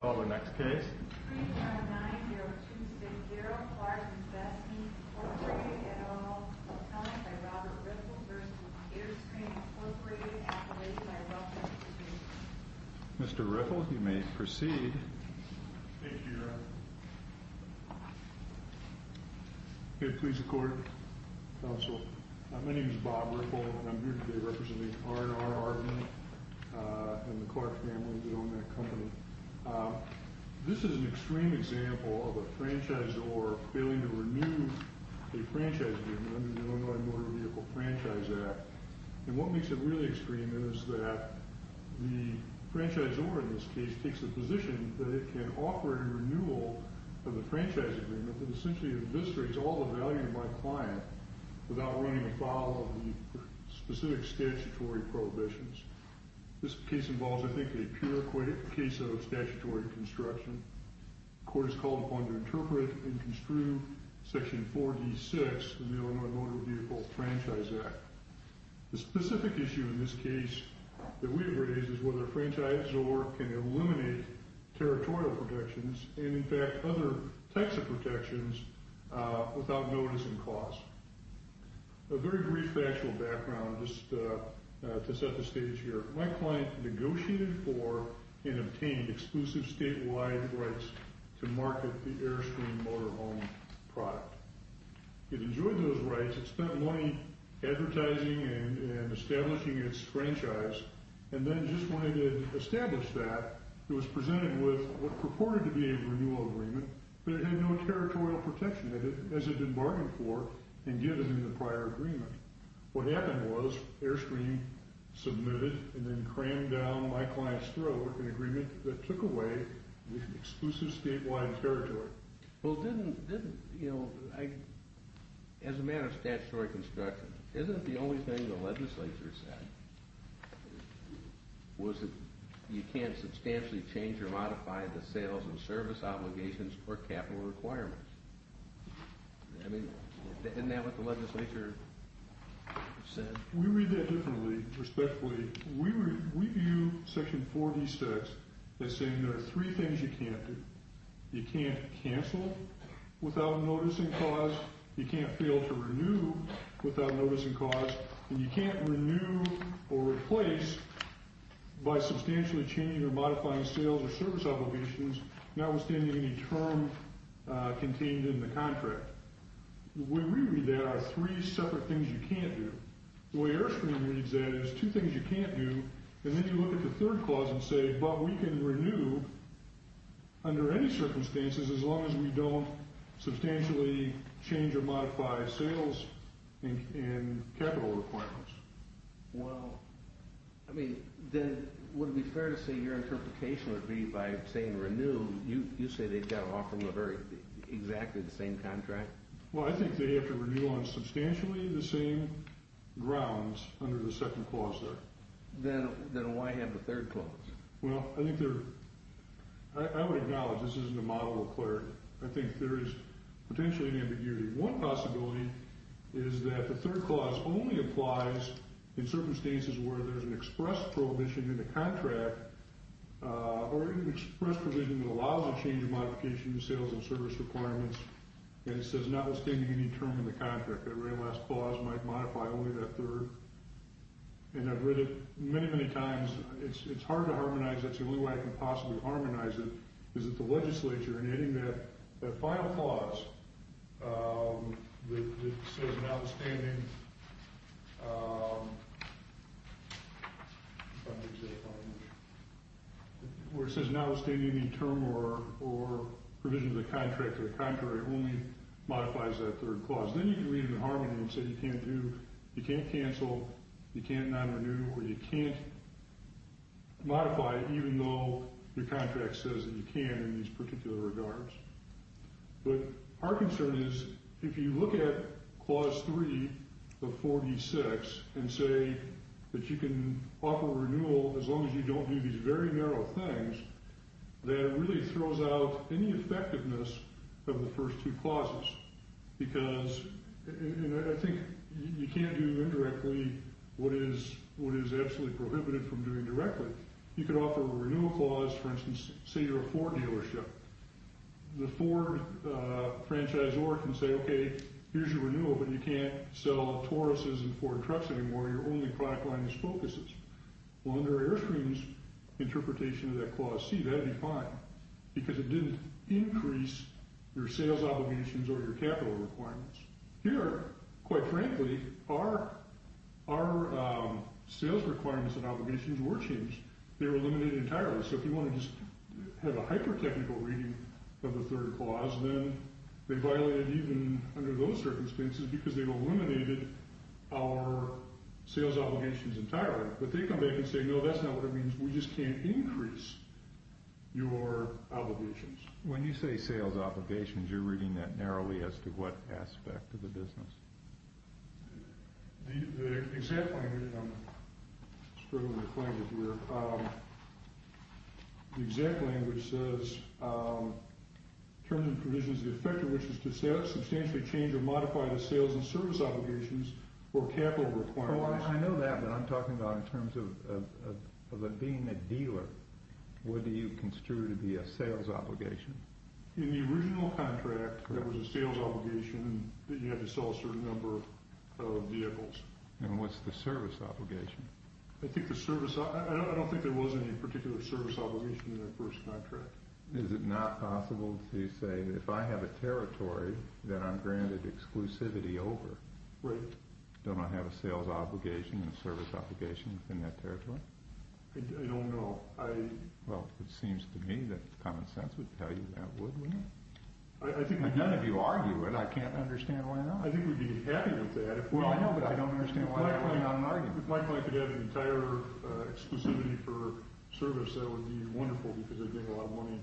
Call the next case. Mr. Riffle, you may proceed. Thank you, Your Honor. Good. Please record, Counsel. My name is Bob Riffle and I'm here today representing R&R Ardman and the Clark family that own that company. This is an extreme example of a franchisor failing to renew a franchise agreement under the Illinois Motor Vehicle Franchise Act. And what makes it really extreme is that the franchisor in this case takes the position that it can offer a renewal of the franchise agreement that essentially eviscerates all the value to my client without running afoul of the specific statutory prohibitions. This case involves, I think, a pure case of statutory construction. The court has called upon to interpret and construe Section 4D-6 in the Illinois Motor Vehicle Franchise Act. The specific issue in this case that we have raised is whether a franchisor can eliminate territorial protections and, in fact, other types of protections without noticing cost. A very brief factual background just to set the stage here. My client negotiated for and obtained exclusive statewide rights to market the Airstream Motor Home product. It enjoyed those rights. It spent money advertising and establishing its franchise and then just wanted to establish that. It was presented with what purported to be a renewal agreement, but it had no territorial protection. It was submitted as a debarment for and given in the prior agreement. What happened was Airstream submitted and then crammed down my client's throat an agreement that took away exclusive statewide territory. Well, as a matter of statutory construction, isn't the only thing the legislature said was that you can't substantially change or modify the sales and service obligations or capital requirements? Isn't that what the legislature said? We read that differently, respectfully. We view Section 4D-6 as saying there are three things you can't do. You can't cancel without noticing cost. You can't fail to renew without noticing cost. And you can't renew or replace by substantially changing or modifying sales or service obligations, notwithstanding any term contained in the contract. We reread that as three separate things you can't do. The way Airstream reads that is two things you can't do, and then you look at the third clause and say, but we can renew under any circumstances as long as we don't substantially change or modify sales and capital requirements. Well, I mean, then would it be fair to say your interpretation would be by saying renew, you say they've got to offer exactly the same contract? Well, I think they have to renew on substantially the same grounds under the second clause there. Then why have the third clause? Well, I would acknowledge this isn't a model of clarity. I think there is potentially an ambiguity. One possibility is that the third clause only applies in circumstances where there's an express prohibition in the contract or an express provision that allows a change in modification of sales and service requirements, and it says notwithstanding any term in the contract. That very last clause might modify only that third. And I've read it many, many times. It's hard to harmonize. That's the only way I can possibly harmonize it is at the legislature, and adding that final clause that says notwithstanding any term or provision of the contract to the contrary only modifies that third clause. Then you can read it in harmony and say you can't do, you can't cancel, you can't non-renew, or you can't modify even though your contract says that you can in these particular regards. But our concern is if you look at clause 3 of 46 and say that you can offer renewal as long as you don't do these very narrow things, that really throws out any effectiveness of the first two clauses because, and I think you can't do indirectly what is absolutely prohibited from doing directly. You could offer a renewal clause, for instance, say you're a Ford dealership. The Ford franchisor can say, okay, here's your renewal, but you can't sell Tauruses and Ford trucks anymore. Your only product line is Focuses. Well, under Airstream's interpretation of that clause C, that'd be fine because it didn't increase your sales obligations or your capital requirements. Here, quite frankly, our sales requirements and obligations were changed. They were eliminated entirely. So if you want to just have a hyper-technical reading of the third clause, then they violated even under those circumstances because they've eliminated our sales obligations entirely. But they come back and say, no, that's not what it means. We just can't increase your obligations. When you say sales obligations, you're reading that narrowly as to what aspect of the business. The exact language, and I'm struggling to find it here. The exact language says, terms and provisions of the effector, which is to substantially change or modify the sales and service obligations or capital requirements. I know that, but I'm talking about in terms of being a dealer. What do you construe to be a sales obligation? In the original contract, there was a sales obligation that you had to sell a certain number of vehicles. And what's the service obligation? I don't think there was any particular service obligation in that first contract. Is it not possible to say, if I have a territory that I'm granted exclusivity over, don't I have a sales obligation and a service obligation within that territory? I don't know. Well, it seems to me that common sense would tell you that would, wouldn't it? None of you argue it. I can't understand why not. I think we'd be happy with that. Well, I know, but I don't understand why I'm not arguing it. Likely I could have an entire exclusivity for service. That would be wonderful because I'd get a lot of money.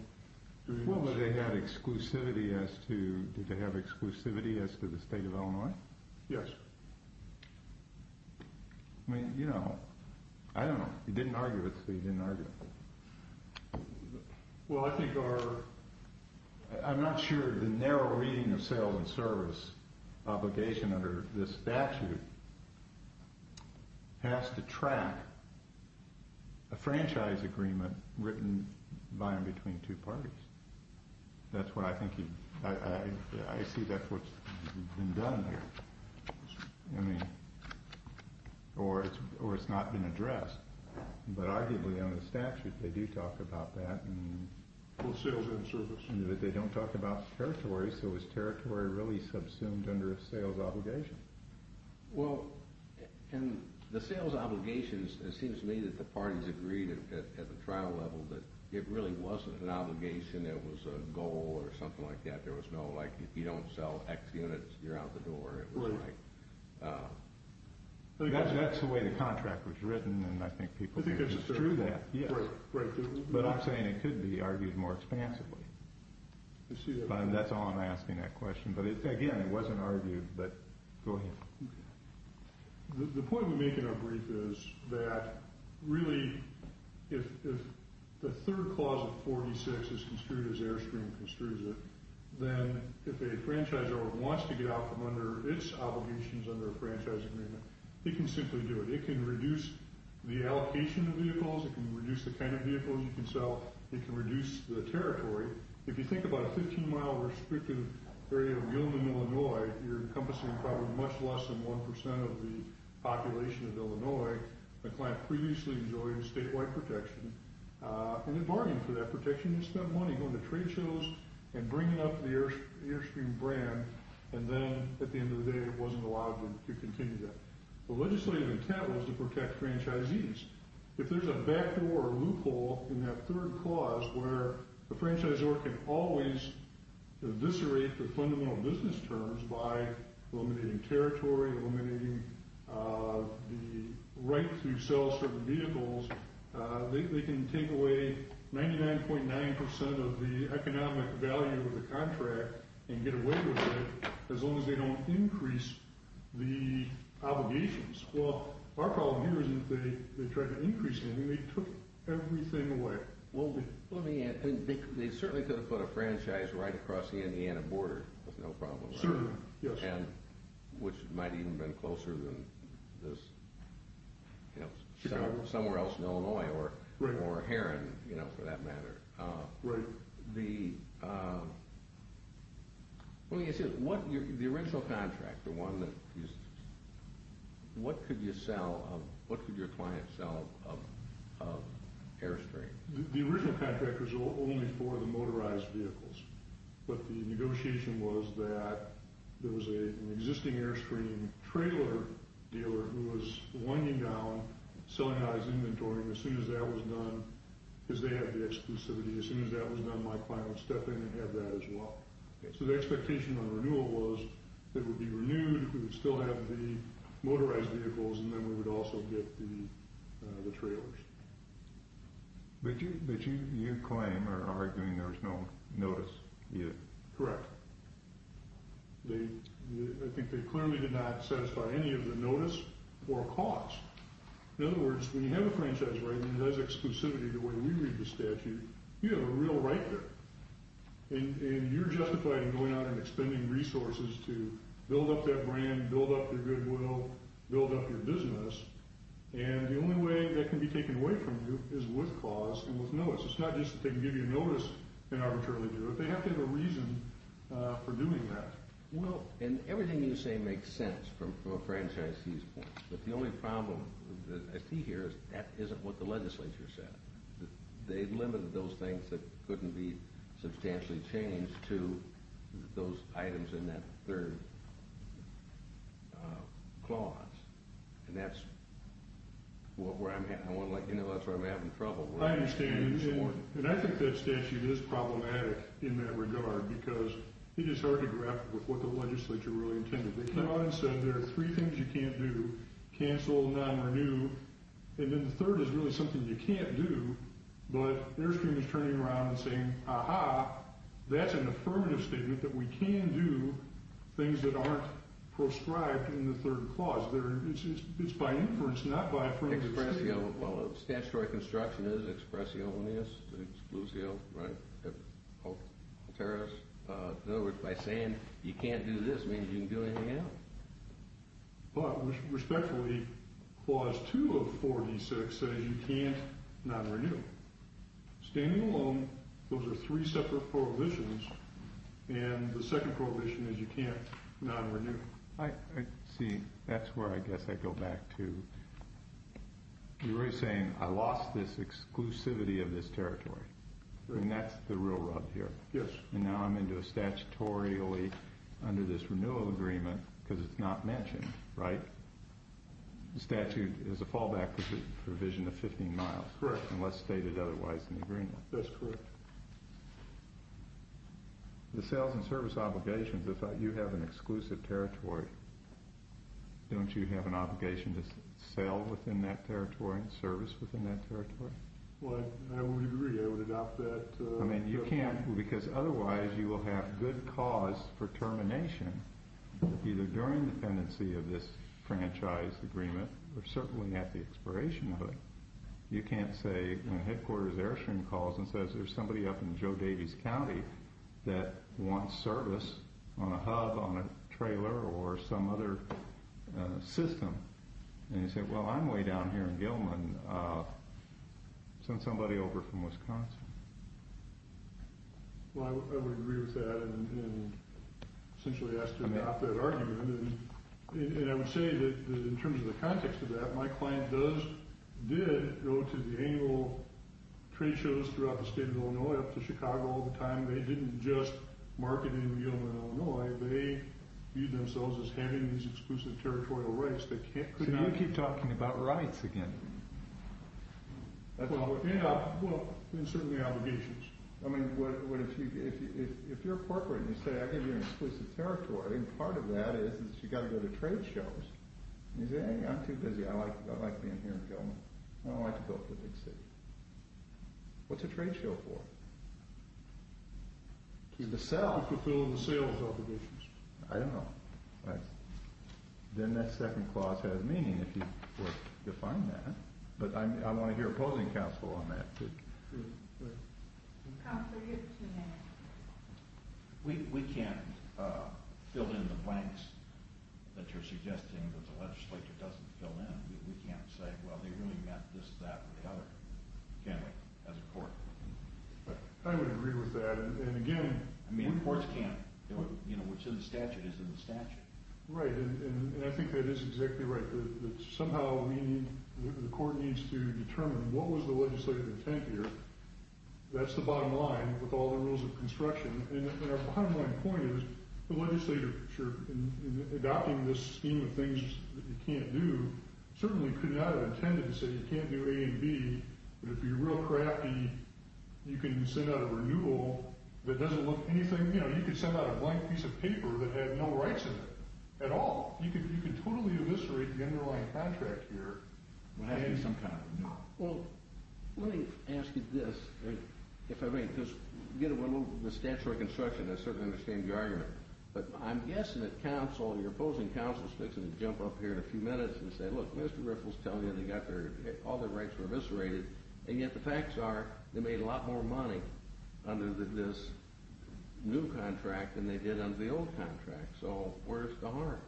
Well, did they have exclusivity as to the state of Illinois? Yes. I mean, you know, I don't know. He didn't argue it, so he didn't argue it. Well, I think our, I'm not sure the narrow reading of sales and service obligation under this statute has to track a franchise agreement written by and between two parties. That's what I think you, I see that's what's been done there. I mean, or it's not been addressed. But arguably under the statute they do talk about that. Well, sales and service. They don't talk about territory, so is territory really subsumed under a sales obligation? Well, in the sales obligations, it seems to me that the parties agreed at the trial level that it really wasn't an obligation. It was a goal or something like that. There was no, like, if you don't sell X units, you're out the door. It was like. That's the way the contract was written, and I think people can construe that. But I'm saying it could be argued more expansively. That's all I'm asking that question. But again, it wasn't argued, but go ahead. The point we make in our brief is that really if the third clause of 46 is construed as Airstream construes it, then if a franchisor wants to get out from under its obligations under a franchise agreement, he can simply do it. It can reduce the allocation of vehicles. It can reduce the kind of vehicles you can sell. It can reduce the territory. If you think about a 15-mile restricted area of Yelman, Illinois, you're encompassing probably much less than 1% of the population of Illinois. The client previously enjoyed statewide protection, and they bargained for that protection. They spent money going to trade shows and bringing up the Airstream brand, and then at the end of the day it wasn't allowed to continue that. The legislative intent was to protect franchisees. If there's a backdoor or loophole in that third clause where the franchisor can always eviscerate the fundamental business terms by eliminating territory, eliminating the right to sell certain vehicles, they can take away 99.9% of the economic value of the contract and get away with it as long as they don't increase the obligations. Well, our problem here is that they tried to increase them, and they took everything away. Well, let me add, they certainly could have put a franchise right across the Indiana border with no problem. Certainly, yes. Which might even have been closer than somewhere else in Illinois or Heron, for that matter. Right. The original contract, what could your client sell of Airstream? The original contract was only for the motorized vehicles, but the negotiation was that there was an existing Airstream trailer dealer who was winding down selling out his inventory, and as soon as that was done, because they had the exclusivity, as soon as that was done, my client would step in and have that as well. So the expectation on renewal was it would be renewed, we would still have the motorized vehicles, and then we would also get the trailers. But you claim or are arguing there was no notice yet. Correct. I think they clearly did not satisfy any of the notice or cost. In other words, when you have a franchise right and it has exclusivity the way we read the statute, you have a real right there. And you're justified in going out and expending resources to build up that brand, build up your goodwill, build up your business, and the only way that can be taken away from you is with cause and with notice. It's not just that they can give you notice and arbitrarily do it. They have to have a reason for doing that. Well, and everything you say makes sense from a franchisee's point of view, but the only problem that I see here is that isn't what the legislature said. They limited those things that couldn't be substantially changed to those items in that third clause, and that's where I'm having trouble. I understand. And I think that statute is problematic in that regard because it is hard to grapple with what the legislature really intended. They came out and said there are three things you can't do, cancel, non-renew, and then the third is really something you can't do, but Airstream is turning around and saying, aha, that's an affirmative statement that we can do things that aren't proscribed in the third clause. It's by inference, not by affirmative statement. Well, statutory construction is expressionis, exclusio, right? In other words, by saying you can't do this means you can't do anything else. But respectfully, Clause 2 of 4D6 says you can't non-renew. Standing alone, those are three separate prohibitions, and the second prohibition is you can't non-renew. See, that's where I guess I go back to. You were saying I lost this exclusivity of this territory, and that's the real rub here. Yes. And now I'm into a statutorily under this renewal agreement because it's not mentioned, right? The statute is a fallback provision of 15 miles. Correct. Unless stated otherwise in the agreement. That's correct. The sales and service obligations, if you have an exclusive territory, don't you have an obligation to sell within that territory and service within that territory? Well, I would agree. I would adopt that. I mean, you can't, because otherwise you will have good cause for termination, either during dependency of this franchise agreement or certainly at the expiration of it. You can't say headquarters Airstream calls and says there's somebody up in Joe Davies County that wants service on a hub, on a trailer, or some other system. And you say, well, I'm way down here in Gilman. Send somebody over from Wisconsin. Well, I would agree with that and essentially ask to adopt that argument. And I would say that in terms of the context of that, my client did go to the annual trade shows throughout the state of Illinois, up to Chicago all the time. They didn't just market in Gilman, Illinois. They viewed themselves as having these exclusive territorial rights. So you keep talking about rights again. Well, and certainly obligations. I mean, if you're a corporate and you say, I think you're in exclusive territory, part of that is you've got to go to trade shows. You say, I'm too busy. I like being here in Gilman. I don't like to go up to the big city. What's a trade show for? To fulfill the sales obligations. I don't know. Then that second clause has meaning if you define that. But I want to hear opposing counsel on that. Counselor, you have two minutes. We can't fill in the blanks that you're suggesting that the legislature doesn't fill in. We can't say, well, they really meant this, that, or the other, can we, as a court? I would agree with that. And, again, courts can't. Which of the statutes is in the statute? Right. And I think that is exactly right. Somehow the court needs to determine what was the legislative intent here. That's the bottom line with all the rules of construction. And our bottom line point is the legislature, in adopting this scheme of things that you can't do, certainly could not have intended to say you can't do A and B, but if you're real crafty, you can send out a renewal that doesn't look anything. You know, you could send out a blank piece of paper that had no rights in it at all. You could totally eviscerate the underlying contract here. Well, let me ask you this, if I may, because, you know, the statute of construction, I certainly understand the argument, but I'm guessing that counsel, your opposing counsel is fixing to jump up here in a few minutes and say, look, Mr. Riffle's telling you they got all their rights eviscerated, and yet the facts are they made a lot more money under this new contract than they did under the old contract. So where's the harm,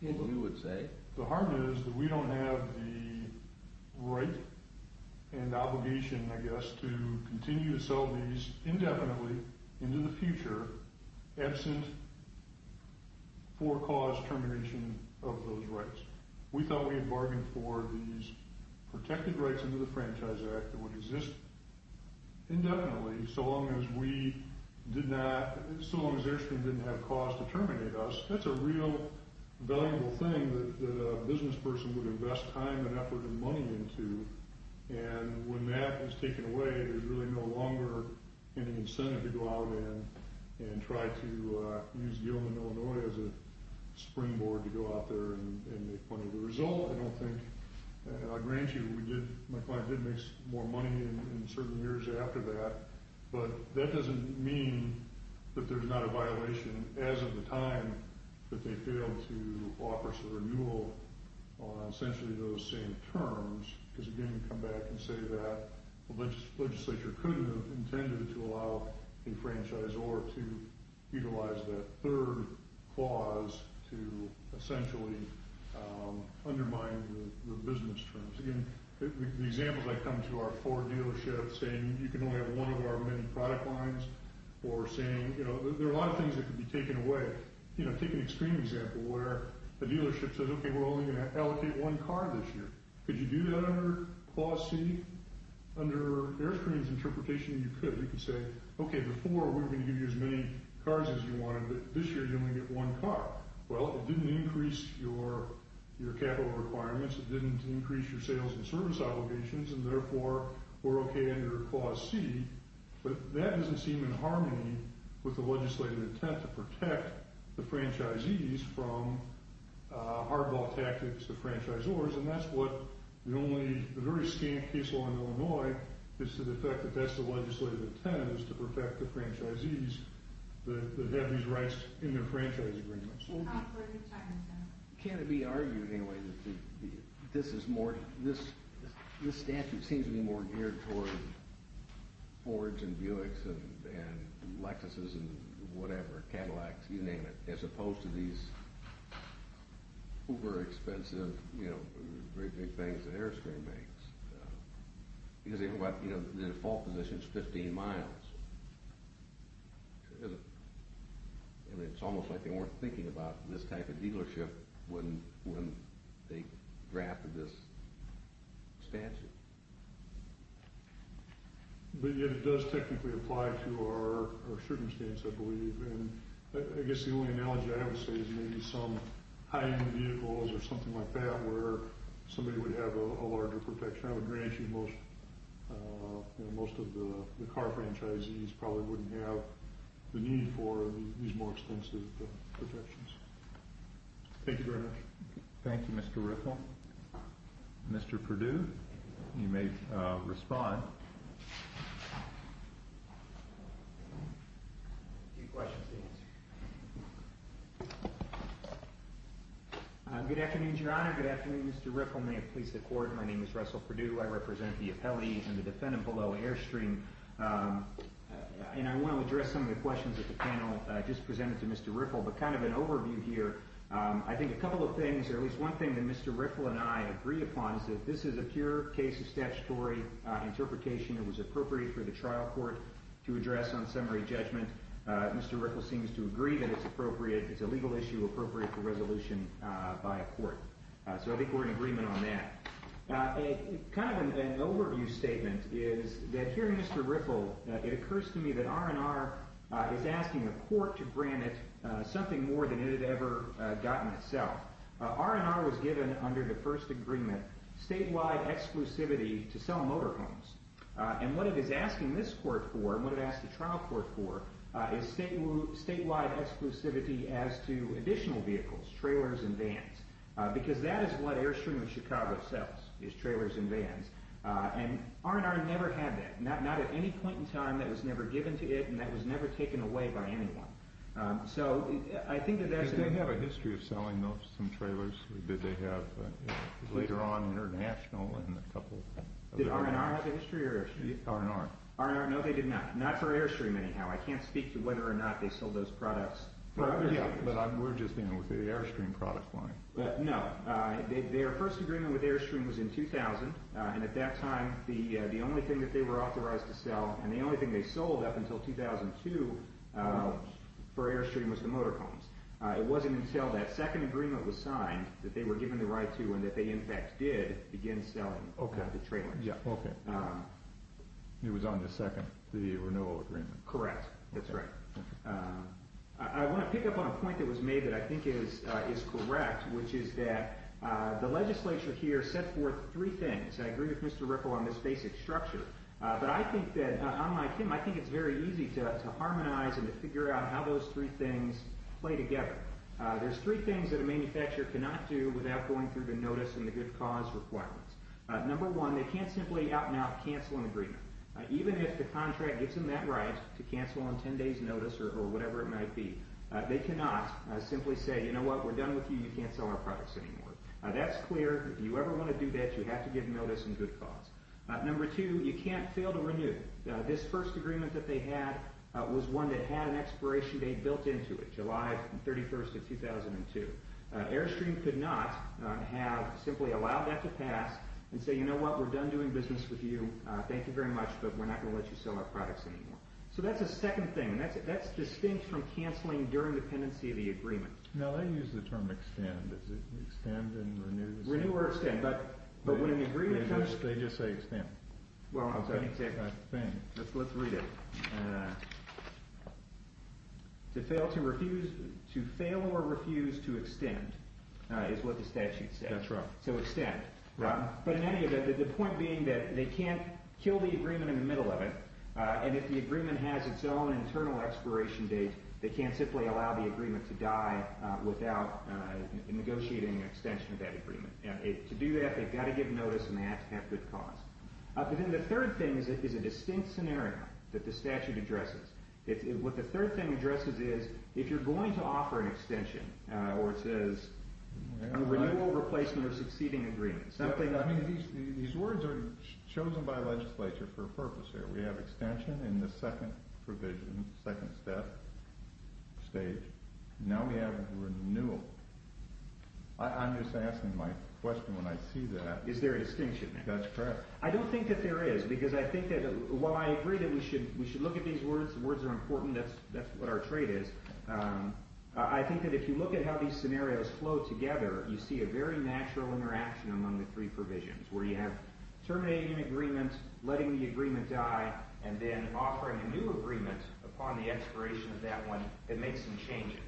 you would say? The harm is that we don't have the right and obligation, I guess, to continue to sell these indefinitely into the future, absent for cause termination of those rights. We thought we had bargained for these protected rights under the Franchise Act that would exist indefinitely so long as we did not, so long as Erskine didn't have cause to terminate us. That's a real valuable thing that a business person would invest time and effort and money into, and when that is taken away, there's really no longer any incentive to go out and try to use Gilman, Illinois, as a springboard to go out there and make money. The result, I don't think, and I'll grant you, my client did make more money in certain years after that, but that doesn't mean that there's not a violation as of the time that they failed to offer us a renewal on essentially those same terms because, again, we come back and say that the legislature could have intended to allow a franchisor to utilize that third clause to essentially undermine the business terms. Again, the examples I've come to are Ford dealerships saying you can only have one of our many product lines or saying, you know, there are a lot of things that could be taken away. You know, take an extreme example where a dealership says, okay, we're only going to allocate one car this year. Could you do that under Clause C? Under Erskine's interpretation, you could. You could say, okay, before we were going to give you as many cars as you wanted, but this year you only get one car. Well, it didn't increase your capital requirements, it didn't increase your sales and service obligations, and therefore we're okay under Clause C, but that doesn't seem in harmony with the legislative intent to protect the franchisees from hardball tactics to franchisors, and that's what the only, the very scant case law in Illinois is to the effect that that's the legislative intent, is to protect the franchisees that have these rights in their franchise agreements. Can it be argued anyway that this is more, this statute seems to be more geared toward Fords and Buicks and Lexuses and whatever, Cadillacs, you name it, as opposed to these uber expensive, you know, and it's almost like they weren't thinking about this type of dealership when they drafted this statute. But yet it does technically apply to our circumstance, I believe, and I guess the only analogy I have to say is maybe some high-end vehicles or something like that where somebody would have a larger protection, I would grant you most of the car franchisees probably wouldn't have the need for these more extensive protections. Thank you very much. Thank you, Mr. Riffle. Mr. Perdue, you may respond. A few questions to answer. Good afternoon, Your Honor. Good afternoon, Mr. Riffle. May it please the Court, my name is Russell Perdue. I represent the appellees and the defendant below Airstream, and I want to address some of the questions that the panel just presented to Mr. Riffle. But kind of an overview here, I think a couple of things, or at least one thing that Mr. Riffle and I agree upon is that this is a pure case of statutory interpretation. It was appropriate for the trial court to address on summary judgment. Mr. Riffle seems to agree that it's appropriate. It's a legal issue appropriate for resolution by a court. So I think we're in agreement on that. Kind of an overview statement is that here, Mr. Riffle, it occurs to me that R&R is asking the court to grant it something more than it had ever gotten itself. R&R was given under the first agreement statewide exclusivity to sell motorhomes. And what it is asking this court for, and what it asked the trial court for, is statewide exclusivity as to additional vehicles, trailers and vans. Because that is what Airstream of Chicago sells, is trailers and vans. And R&R never had that, not at any point in time. That was never given to it, and that was never taken away by anyone. So I think that that's... Did they have a history of selling those, some trailers? Did they have, later on, international and a couple... Did R&R have a history of Airstream? R&R. R&R, no, they did not. Not for Airstream, anyhow. I can't speak to whether or not they sold those products. Yeah, but we're just dealing with the Airstream product line. No. Their first agreement with Airstream was in 2000. And at that time, the only thing that they were authorized to sell, and the only thing they sold up until 2002 for Airstream was the motorhomes. It wasn't until that second agreement was signed that they were given the right to, and that they, in fact, did begin selling the trailers. Okay. It was on the second, the renewal agreement. Correct. That's right. I want to pick up on a point that was made that I think is correct, which is that the legislature here set forth three things. I agree with Mr. Ripple on this basic structure. But I think that, unlike him, I think it's very easy to harmonize and to figure out how those three things play together. There's three things that a manufacturer cannot do without going through the notice and the good cause requirements. Number one, they can't simply out-and-out cancel an agreement. Even if the contract gives them that right to cancel on 10 days notice or whatever it might be, they cannot simply say, you know what, we're done with you, you can't sell our products anymore. That's clear. If you ever want to do that, you have to give notice and good cause. Number two, you can't fail to renew. This first agreement that they had was one that had an expiration date built into it, July 31st of 2002. Airstream could not have simply allowed that to pass and say, you know what, we're done doing business with you, thank you very much, but we're not going to let you sell our products anymore. So that's the second thing. That's distinct from canceling during the pendency of the agreement. No, they use the term extend. Is it extend and renew? Renew or extend. But when an agreement comes, they just say extend. Well, I'm going to take that thing. Let's read it. To fail or refuse to extend is what the statute says. That's right. So extend. Right. But in any event, the point being that they can't kill the agreement in the middle of it, and if the agreement has its own internal expiration date, they can't simply allow the agreement to die without negotiating an extension of that agreement. To do that, they've got to give notice and they have to have good cause. Then the third thing is a distinct scenario that the statute addresses. What the third thing addresses is if you're going to offer an extension or it says a renewal, replacement, or succeeding agreement. These words are chosen by legislature for a purpose here. We have extension in the second provision, second step, stage. Now we have renewal. I'm just asking my question when I see that. Is there a distinction? That's correct. I don't think that there is because I think that while I agree that we should look at these words, the words are important, that's what our trade is, I think that if you look at how these scenarios flow together, you see a very natural interaction among the three provisions where you have terminating an agreement, letting the agreement die, and then offering a new agreement upon the expiration of that one that makes some changes.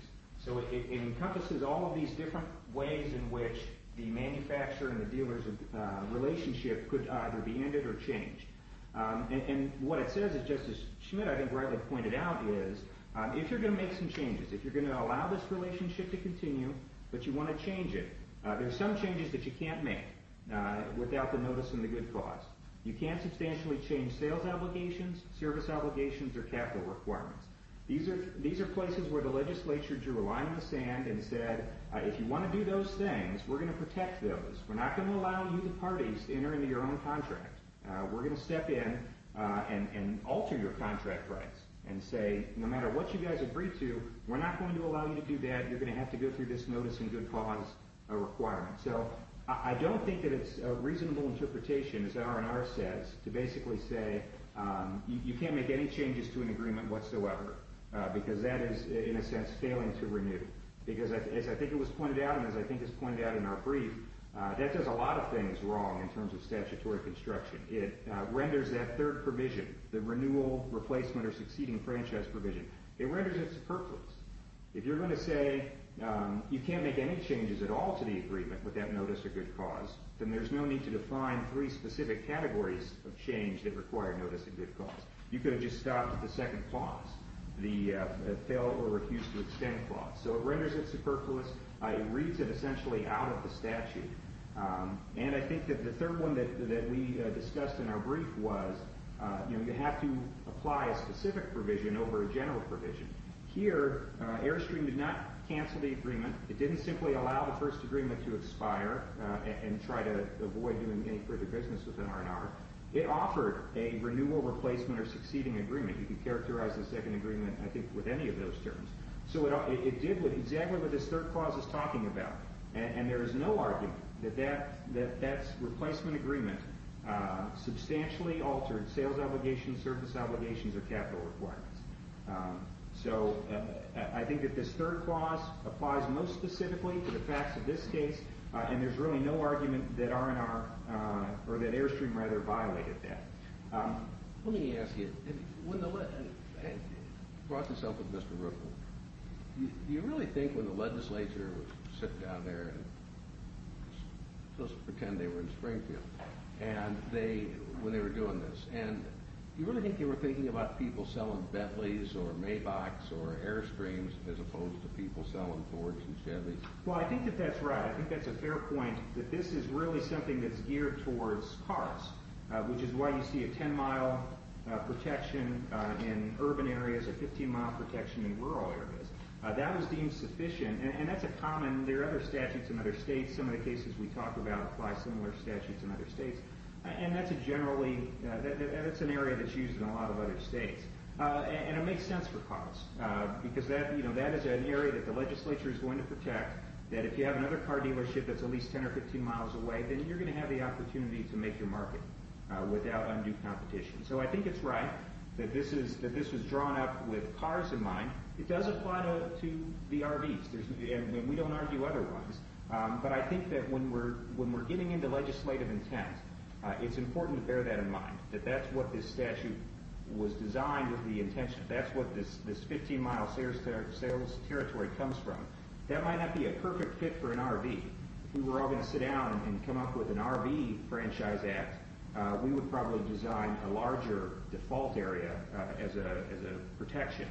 So it encompasses all of these different ways in which the manufacturer and the dealer's relationship could either be ended or changed. And what it says is, just as Schmidt, I think, rightly pointed out, is if you're going to make some changes, if you're going to allow this relationship to continue, but you want to change it, there are some changes that you can't make without the notice and the good cause. You can't substantially change sales obligations, service obligations, or capital requirements. These are places where the legislature drew a line in the sand and said, if you want to do those things, we're going to protect those. We're not going to allow you, the parties, to enter into your own contract. We're going to step in and alter your contract rights and say, no matter what you guys agree to, we're not going to allow you to do that. You're going to have to go through this notice and good cause requirement. So I don't think that it's a reasonable interpretation, as R&R says, to basically say you can't make any changes to an agreement whatsoever, because that is, in a sense, failing to renew. Because as I think it was pointed out and as I think it's pointed out in our brief, that does a lot of things wrong in terms of statutory construction. It renders that third provision, the renewal, replacement, or succeeding franchise provision, it renders it superfluous. If you're going to say you can't make any changes at all to the agreement with that notice or good cause, then there's no need to define three specific categories of change that require notice and good cause. You could have just stopped at the second clause, the fail or refuse to extend clause. So it renders it superfluous. It reads it essentially out of the statute. And I think that the third one that we discussed in our brief was you have to apply a specific provision over a general provision. Here, Airstream did not cancel the agreement. It didn't simply allow the first agreement to expire and try to avoid doing any further business with an R&R. It offered a renewal, replacement, or succeeding agreement. You can characterize the second agreement, I think, with any of those terms. So it did exactly what this third clause is talking about. And there is no argument that that replacement agreement substantially altered sales obligations, service obligations, or capital requirements. So I think that this third clause applies most specifically to the facts of this case, and there's really no argument that R&R or that Airstream rather violated that. Let me ask you, when the legislature brought this up with Mr. Ruckel, do you really think when the legislature would sit down there and just pretend they were in Springfield when they were doing this, and do you really think they were thinking about people selling Bentleys or Maybachs or Airstreams as opposed to people selling Fords and Chevys? Well, I think that that's right. I think that's a fair point, that this is really something that's geared towards cars, which is why you see a 10-mile protection in urban areas, a 15-mile protection in rural areas. That is deemed sufficient, and that's a common. There are other statutes in other states. Some of the cases we talk about apply similar statutes in other states. And that's generally an area that's used in a lot of other states. And it makes sense for cars because that is an area that the legislature is going to protect, that if you have another car dealership that's at least 10 or 15 miles away, then you're going to have the opportunity to make your market without undue competition. So I think it's right that this was drawn up with cars in mind. It does apply to the RVs, and we don't argue otherwise. But I think that when we're getting into legislative intent, it's important to bear that in mind, that that's what this statute was designed with the intention. That's what this 15-mile sales territory comes from. That might not be a perfect fit for an RV. If we were all going to sit down and come up with an RV franchise act, we would probably design a larger default area as a protection.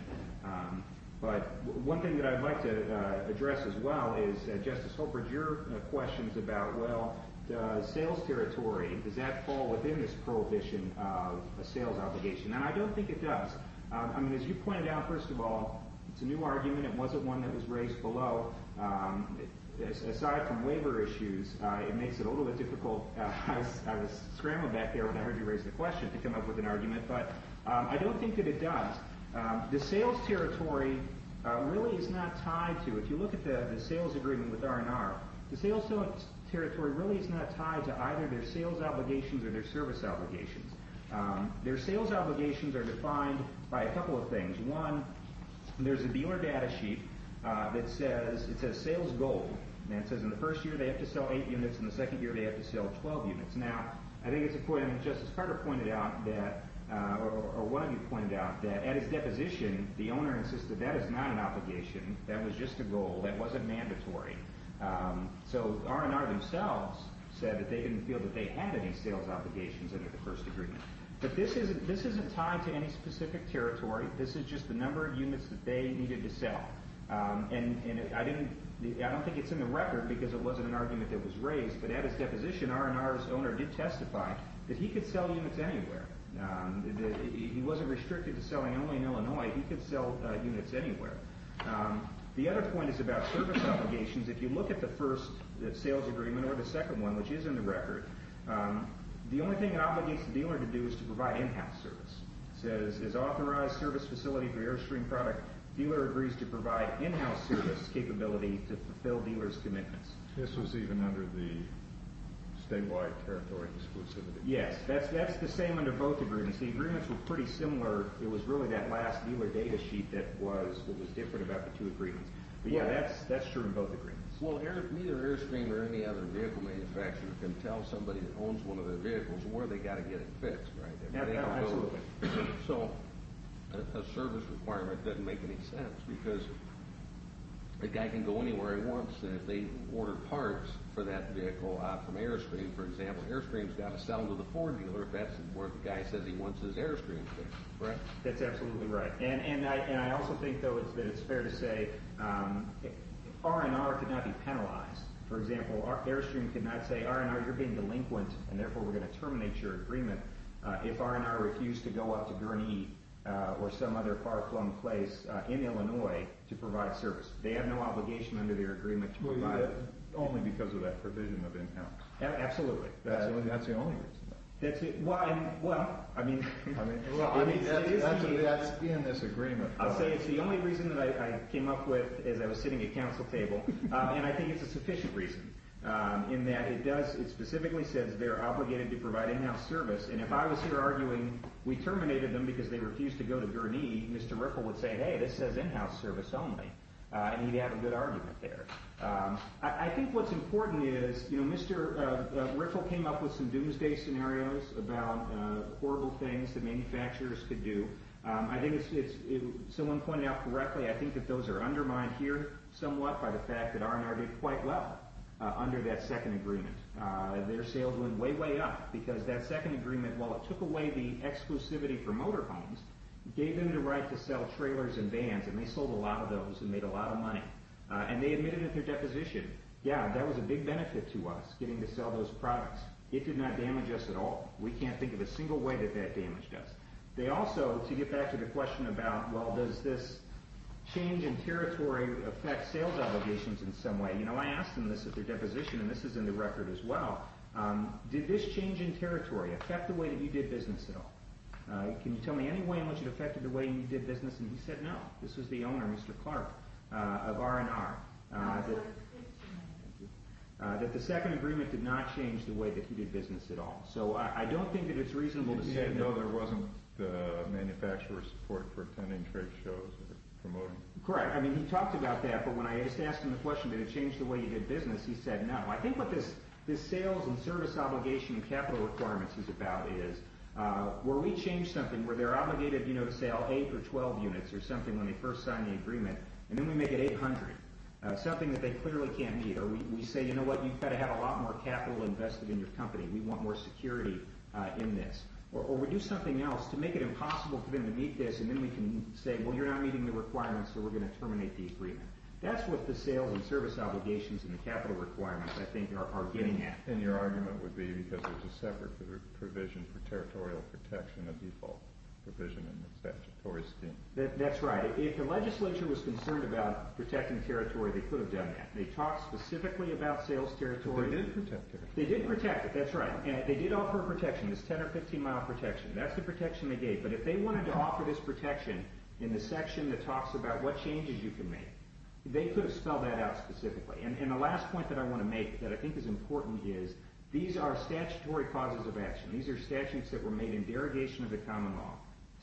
But one thing that I'd like to address as well is, Justice Holbrook, your questions about, well, does sales territory, does that fall within this prohibition of a sales obligation? And I don't think it does. I mean, as you pointed out, first of all, it's a new argument. It wasn't one that was raised below. Aside from waiver issues, it makes it a little bit difficult. I was scrambling back there when I heard you raise the question to come up with an argument. But I don't think that it does. The sales territory really is not tied to, if you look at the sales agreement with R&R, the sales territory really is not tied to either their sales obligations or their service obligations. Their sales obligations are defined by a couple of things. One, there's a dealer data sheet that says sales goal. It says in the first year they have to sell 8 units, in the second year they have to sell 12 units. Now, I think it's a point Justice Carter pointed out that, or one of you pointed out, that at its deposition the owner insisted that is not an obligation, that was just a goal, that wasn't mandatory. So R&R themselves said that they didn't feel that they had any sales obligations under the first agreement. But this isn't tied to any specific territory. This is just the number of units that they needed to sell. And I don't think it's in the record because it wasn't an argument that was raised, but at its deposition R&R's owner did testify that he could sell units anywhere. He wasn't restricted to selling only in Illinois. He could sell units anywhere. The other point is about service obligations. If you look at the first sales agreement or the second one, which is in the record, the only thing it obligates the dealer to do is to provide in-house service. It says, as authorized service facility for Airstream product, dealer agrees to provide in-house service capability to fulfill dealer's commitments. This was even under the statewide territory exclusivity. Yes, that's the same under both agreements. The agreements were pretty similar. It was really that last dealer data sheet that was different about the two agreements. But, yeah, that's true in both agreements. Well, neither Airstream or any other vehicle manufacturer can tell somebody that owns one of their vehicles where they've got to get it fixed, right? Absolutely. So a service requirement doesn't make any sense because the guy can go anywhere he wants. If they order parts for that vehicle from Airstream, for example, Airstream's got to sell them to the Ford dealer if that's where the guy says he wants his Airstream fixed, correct? That's absolutely right. And I also think, though, that it's fair to say R&R could not be penalized. For example, Airstream could not say, R&R, you're being delinquent, and therefore we're going to terminate your agreement. If R&R refused to go out to Gurney or some other far-flung place in Illinois to provide service, they have no obligation under their agreement to provide it. Only because of that provision of in-house. Absolutely. That's the only reason, though. Well, I mean, that is the... That's in this agreement. I'll say it's the only reason that I came up with as I was sitting at council table, and I think it's a sufficient reason in that it does, it specifically says they're obligated to provide in-house service, and if I was here arguing we terminated them because they refused to go to Gurney, Mr. Riffle would say, hey, this says in-house service only, and he'd have a good argument there. I think what's important is, you know, Mr. Riffle came up with some doomsday scenarios about horrible things that manufacturers could do. I think it's, someone pointed out correctly, I think that those are undermined here somewhat by the fact that R&R did quite well under that second agreement. Their sales went way, way up because that second agreement, while it took away the exclusivity for motorhomes, gave them the right to sell trailers and vans, and they sold a lot of those and made a lot of money. And they admitted at their deposition, yeah, that was a big benefit to us, getting to sell those products. It did not damage us at all. We can't think of a single way that that damaged us. They also, to get back to the question about, well, does this change in territory affect sales obligations in some way? You know, I asked them this at their deposition, and this is in the record as well. Did this change in territory affect the way that you did business at all? Can you tell me any way in which it affected the way you did business? And he said no. This was the owner, Mr. Clark, of R&R. That the second agreement did not change the way that he did business at all. So I don't think that it's reasonable to say that. Even though there wasn't the manufacturer's support for attending trade shows or promoting? Correct. I mean, he talked about that, but when I asked him the question, did it change the way you did business, he said no. I think what this sales and service obligation and capital requirements is about is where we change something where they're obligated to sell 8 or 12 units or something when they first sign the agreement, and then we make it 800, something that they clearly can't meet. Or we say, you know what, you've got to have a lot more capital invested in your company. We want more security in this. Or we do something else to make it impossible for them to meet this, and then we can say, well, you're not meeting the requirements, so we're going to terminate the agreement. That's what the sales and service obligations and the capital requirements, I think, are getting at. And your argument would be because there's a separate provision for territorial protection, a default provision in the statutory scheme. That's right. If the legislature was concerned about protecting territory, they could have done that. They talked specifically about sales territory. But they didn't protect it. They didn't protect it. That's right. They did offer a protection, this 10- or 15-mile protection. That's the protection they gave. But if they wanted to offer this protection in the section that talks about what changes you can make, they could have spelled that out specifically. And the last point that I want to make that I think is important is these are statutory causes of action. These are statutes that were made in derogation of the common law.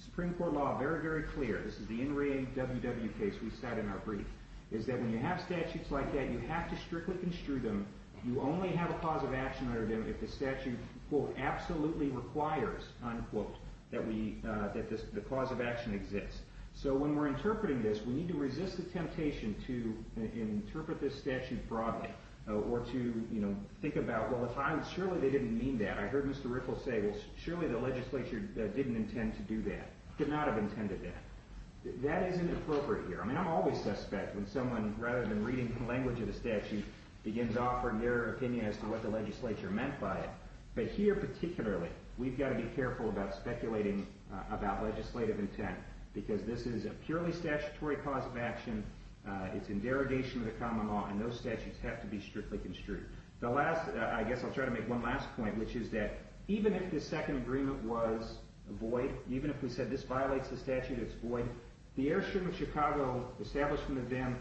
Supreme Court law, very, very clear. This is the NRA WW case we sat in our brief, is that when you have statutes like that, you have to strictly construe them. You only have a cause of action under them if the statute, quote, absolutely requires, unquote, that the cause of action exists. So when we're interpreting this, we need to resist the temptation to interpret this statute broadly or to think about, well, surely they didn't mean that. I heard Mr. Rickles say, well, surely the legislature didn't intend to do that, did not have intended that. That isn't appropriate here. I mean, I'm always suspect when someone, rather than reading the language of the statute, begins offering their opinion as to what the legislature meant by it. But here particularly, we've got to be careful about speculating about legislative intent because this is a purely statutory cause of action. It's in derogation of the common law, and those statutes have to be strictly construed. The last, I guess I'll try to make one last point, which is that even if the second agreement was void, the Airstream of Chicago establishment of them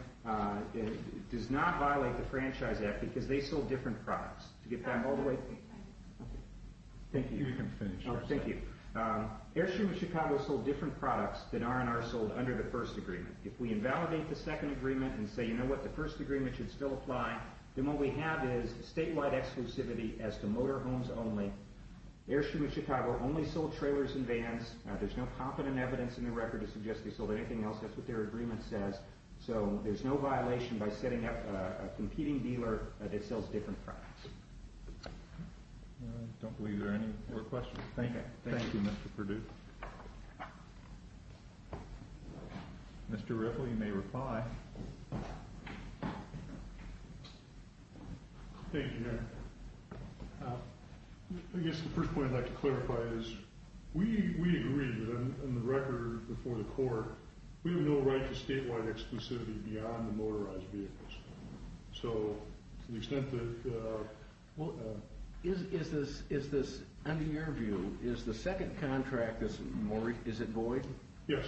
does not violate the Franchise Act because they sold different products. Did you get that all the way? Thank you. You can finish. Oh, thank you. Airstream of Chicago sold different products than R&R sold under the first agreement. If we invalidate the second agreement and say, you know what, the first agreement should still apply, then what we have is statewide exclusivity as to motorhomes only. Airstream of Chicago only sold trailers and vans. There's no competent evidence in the record to suggest they sold anything else. That's what their agreement says. So there's no violation by setting up a competing dealer that sells different products. I don't believe there are any more questions. Thank you, Mr. Perdue. Mr. Ripple, you may reply. Thank you, Eric. I guess the first point I'd like to clarify is we agree in the record before the court, we have no right to statewide exclusivity beyond the motorized vehicles. So to the extent that we'll— Is this, under your view, is the second contract, is it void? Yes.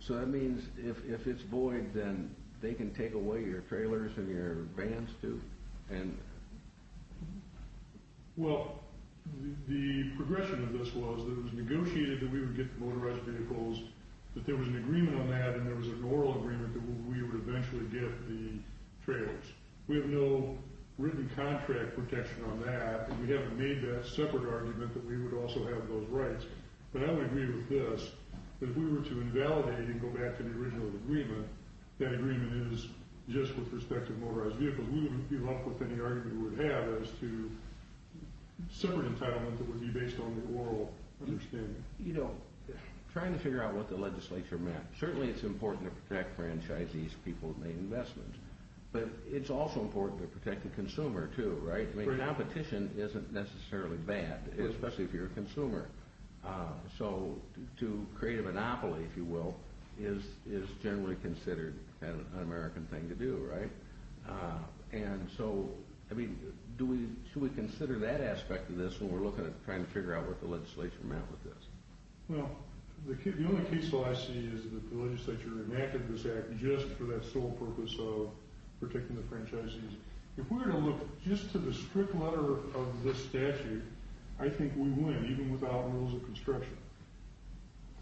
So that means if it's void, then they can take away your trailers and your vans too? Well, the progression of this was that it was negotiated that we would get the motorized vehicles, that there was an agreement on that, and there was an oral agreement that we would eventually get the trailers. We have no written contract protection on that, and we haven't made that separate argument that we would also have those rights. But I would agree with this, that if we were to invalidate and go back to the original agreement, that agreement is just with respect to motorized vehicles. We wouldn't give up with any argument we would have as to separate entitlement that would be based on the oral understanding. You know, trying to figure out what the legislature meant, certainly it's important to protect franchisees, people who've made investments, but it's also important to protect the consumer too, right? I mean, competition isn't necessarily bad, especially if you're a consumer. So to create a monopoly, if you will, is generally considered an un-American thing to do, right? And so, I mean, should we consider that aspect of this when we're trying to figure out what the legislature meant with this? Well, the only case law I see is that the legislature enacted this act just for that sole purpose of protecting the franchisees. If we were to look just to the strict letter of this statute, I think we win, even without rules of construction.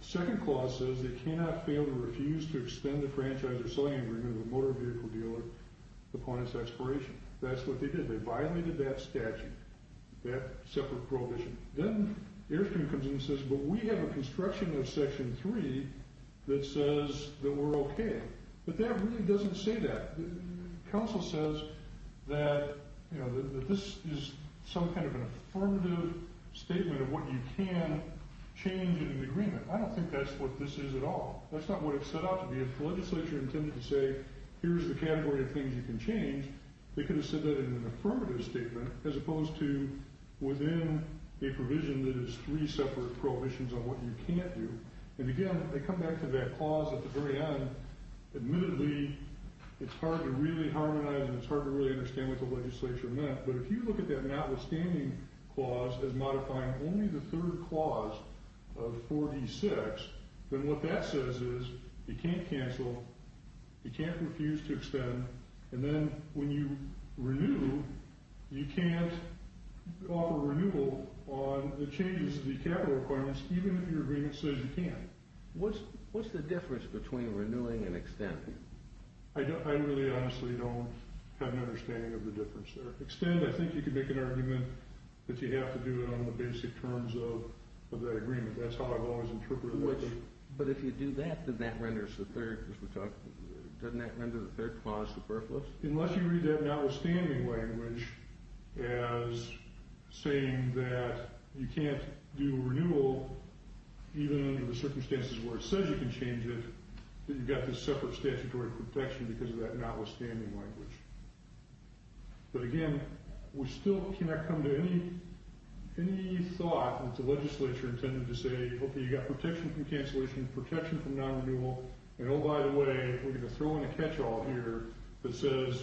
The second clause says, they cannot fail to refuse to extend the franchise or selling agreement of the motor vehicle dealer upon its expiration. That's what they did. They violated that statute, that separate prohibition. Then Airstream comes in and says, but we have a construction of Section 3 that says that we're okay. But that really doesn't say that. Council says that this is some kind of an affirmative statement of what you can change in an agreement. I don't think that's what this is at all. That's not what it's set out to be. If the legislature intended to say, here's the category of things you can change, they could have said that in an affirmative statement, as opposed to within a provision that is three separate prohibitions on what you can't do. And again, they come back to that clause at the very end. Admittedly, it's hard to really harmonize and it's hard to really understand what the legislature meant. But if you look at that notwithstanding clause as modifying only the third clause of 4D6, then what that says is, you can't cancel, you can't refuse to extend, and then when you renew, you can't offer renewal on the changes to the capital requirements, even if your agreement says you can. What's the difference between renewing and extending? I really honestly don't have an understanding of the difference there. Extend, I think you could make an argument that you have to do it on the basic terms of that agreement. That's how I've always interpreted it. But if you do that, doesn't that render the third clause superfluous? Unless you read that notwithstanding language as saying that you can't do renewal, even under the circumstances where it says you can change it, then you've got this separate statutory protection because of that notwithstanding language. But again, we still cannot come to any thought that the legislature intended to say, okay, you've got protection from cancellation, protection from non-renewal, and oh, by the way, we're going to throw in a catch-all here that says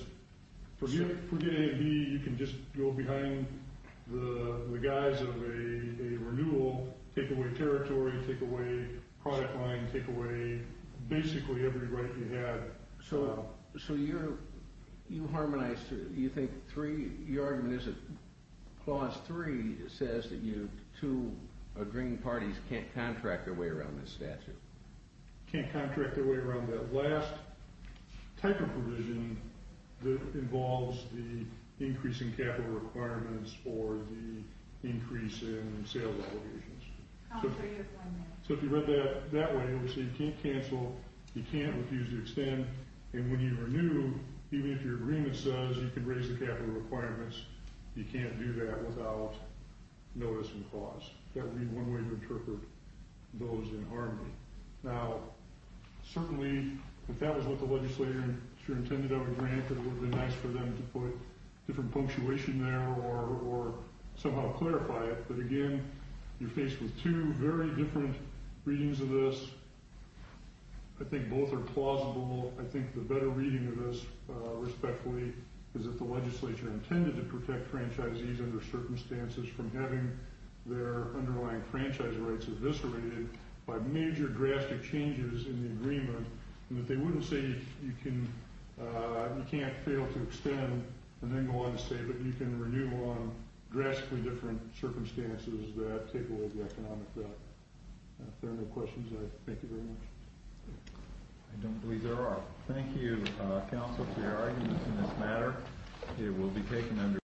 forget A and B, you can just go behind the guise of a renewal, take away territory, take away product line, take away basically every right you have. So you're, you harmonize, you think three, your argument is that clause three says that you, two agreeing parties can't contract their way around this statute. Can't contract their way around that last type of provision that involves the increase in capital requirements or the increase in sales obligations. So if you read that that way, obviously you can't cancel, you can't refuse to extend, and when you renew, even if your agreement says you can raise the capital requirements, you can't do that without notice and clause. That would be one way to interpret those in harmony. Now, certainly if that was what the legislature intended of a grant, it would be nice for them to put different punctuation there or somehow clarify it. But again, you're faced with two very different readings of this. I think both are plausible. I think the better reading of this respectfully is if the legislature intended to protect franchisees under circumstances from having their underlying franchise rights eviscerated by major drastic changes in the agreement, and that they wouldn't say you can't fail to extend, and then go on to say that you can renew on drastically different circumstances that take away the economic value. If there are no questions, I thank you very much. I don't believe there are. Thank you, counsel, for your arguments in this matter. It will be taken under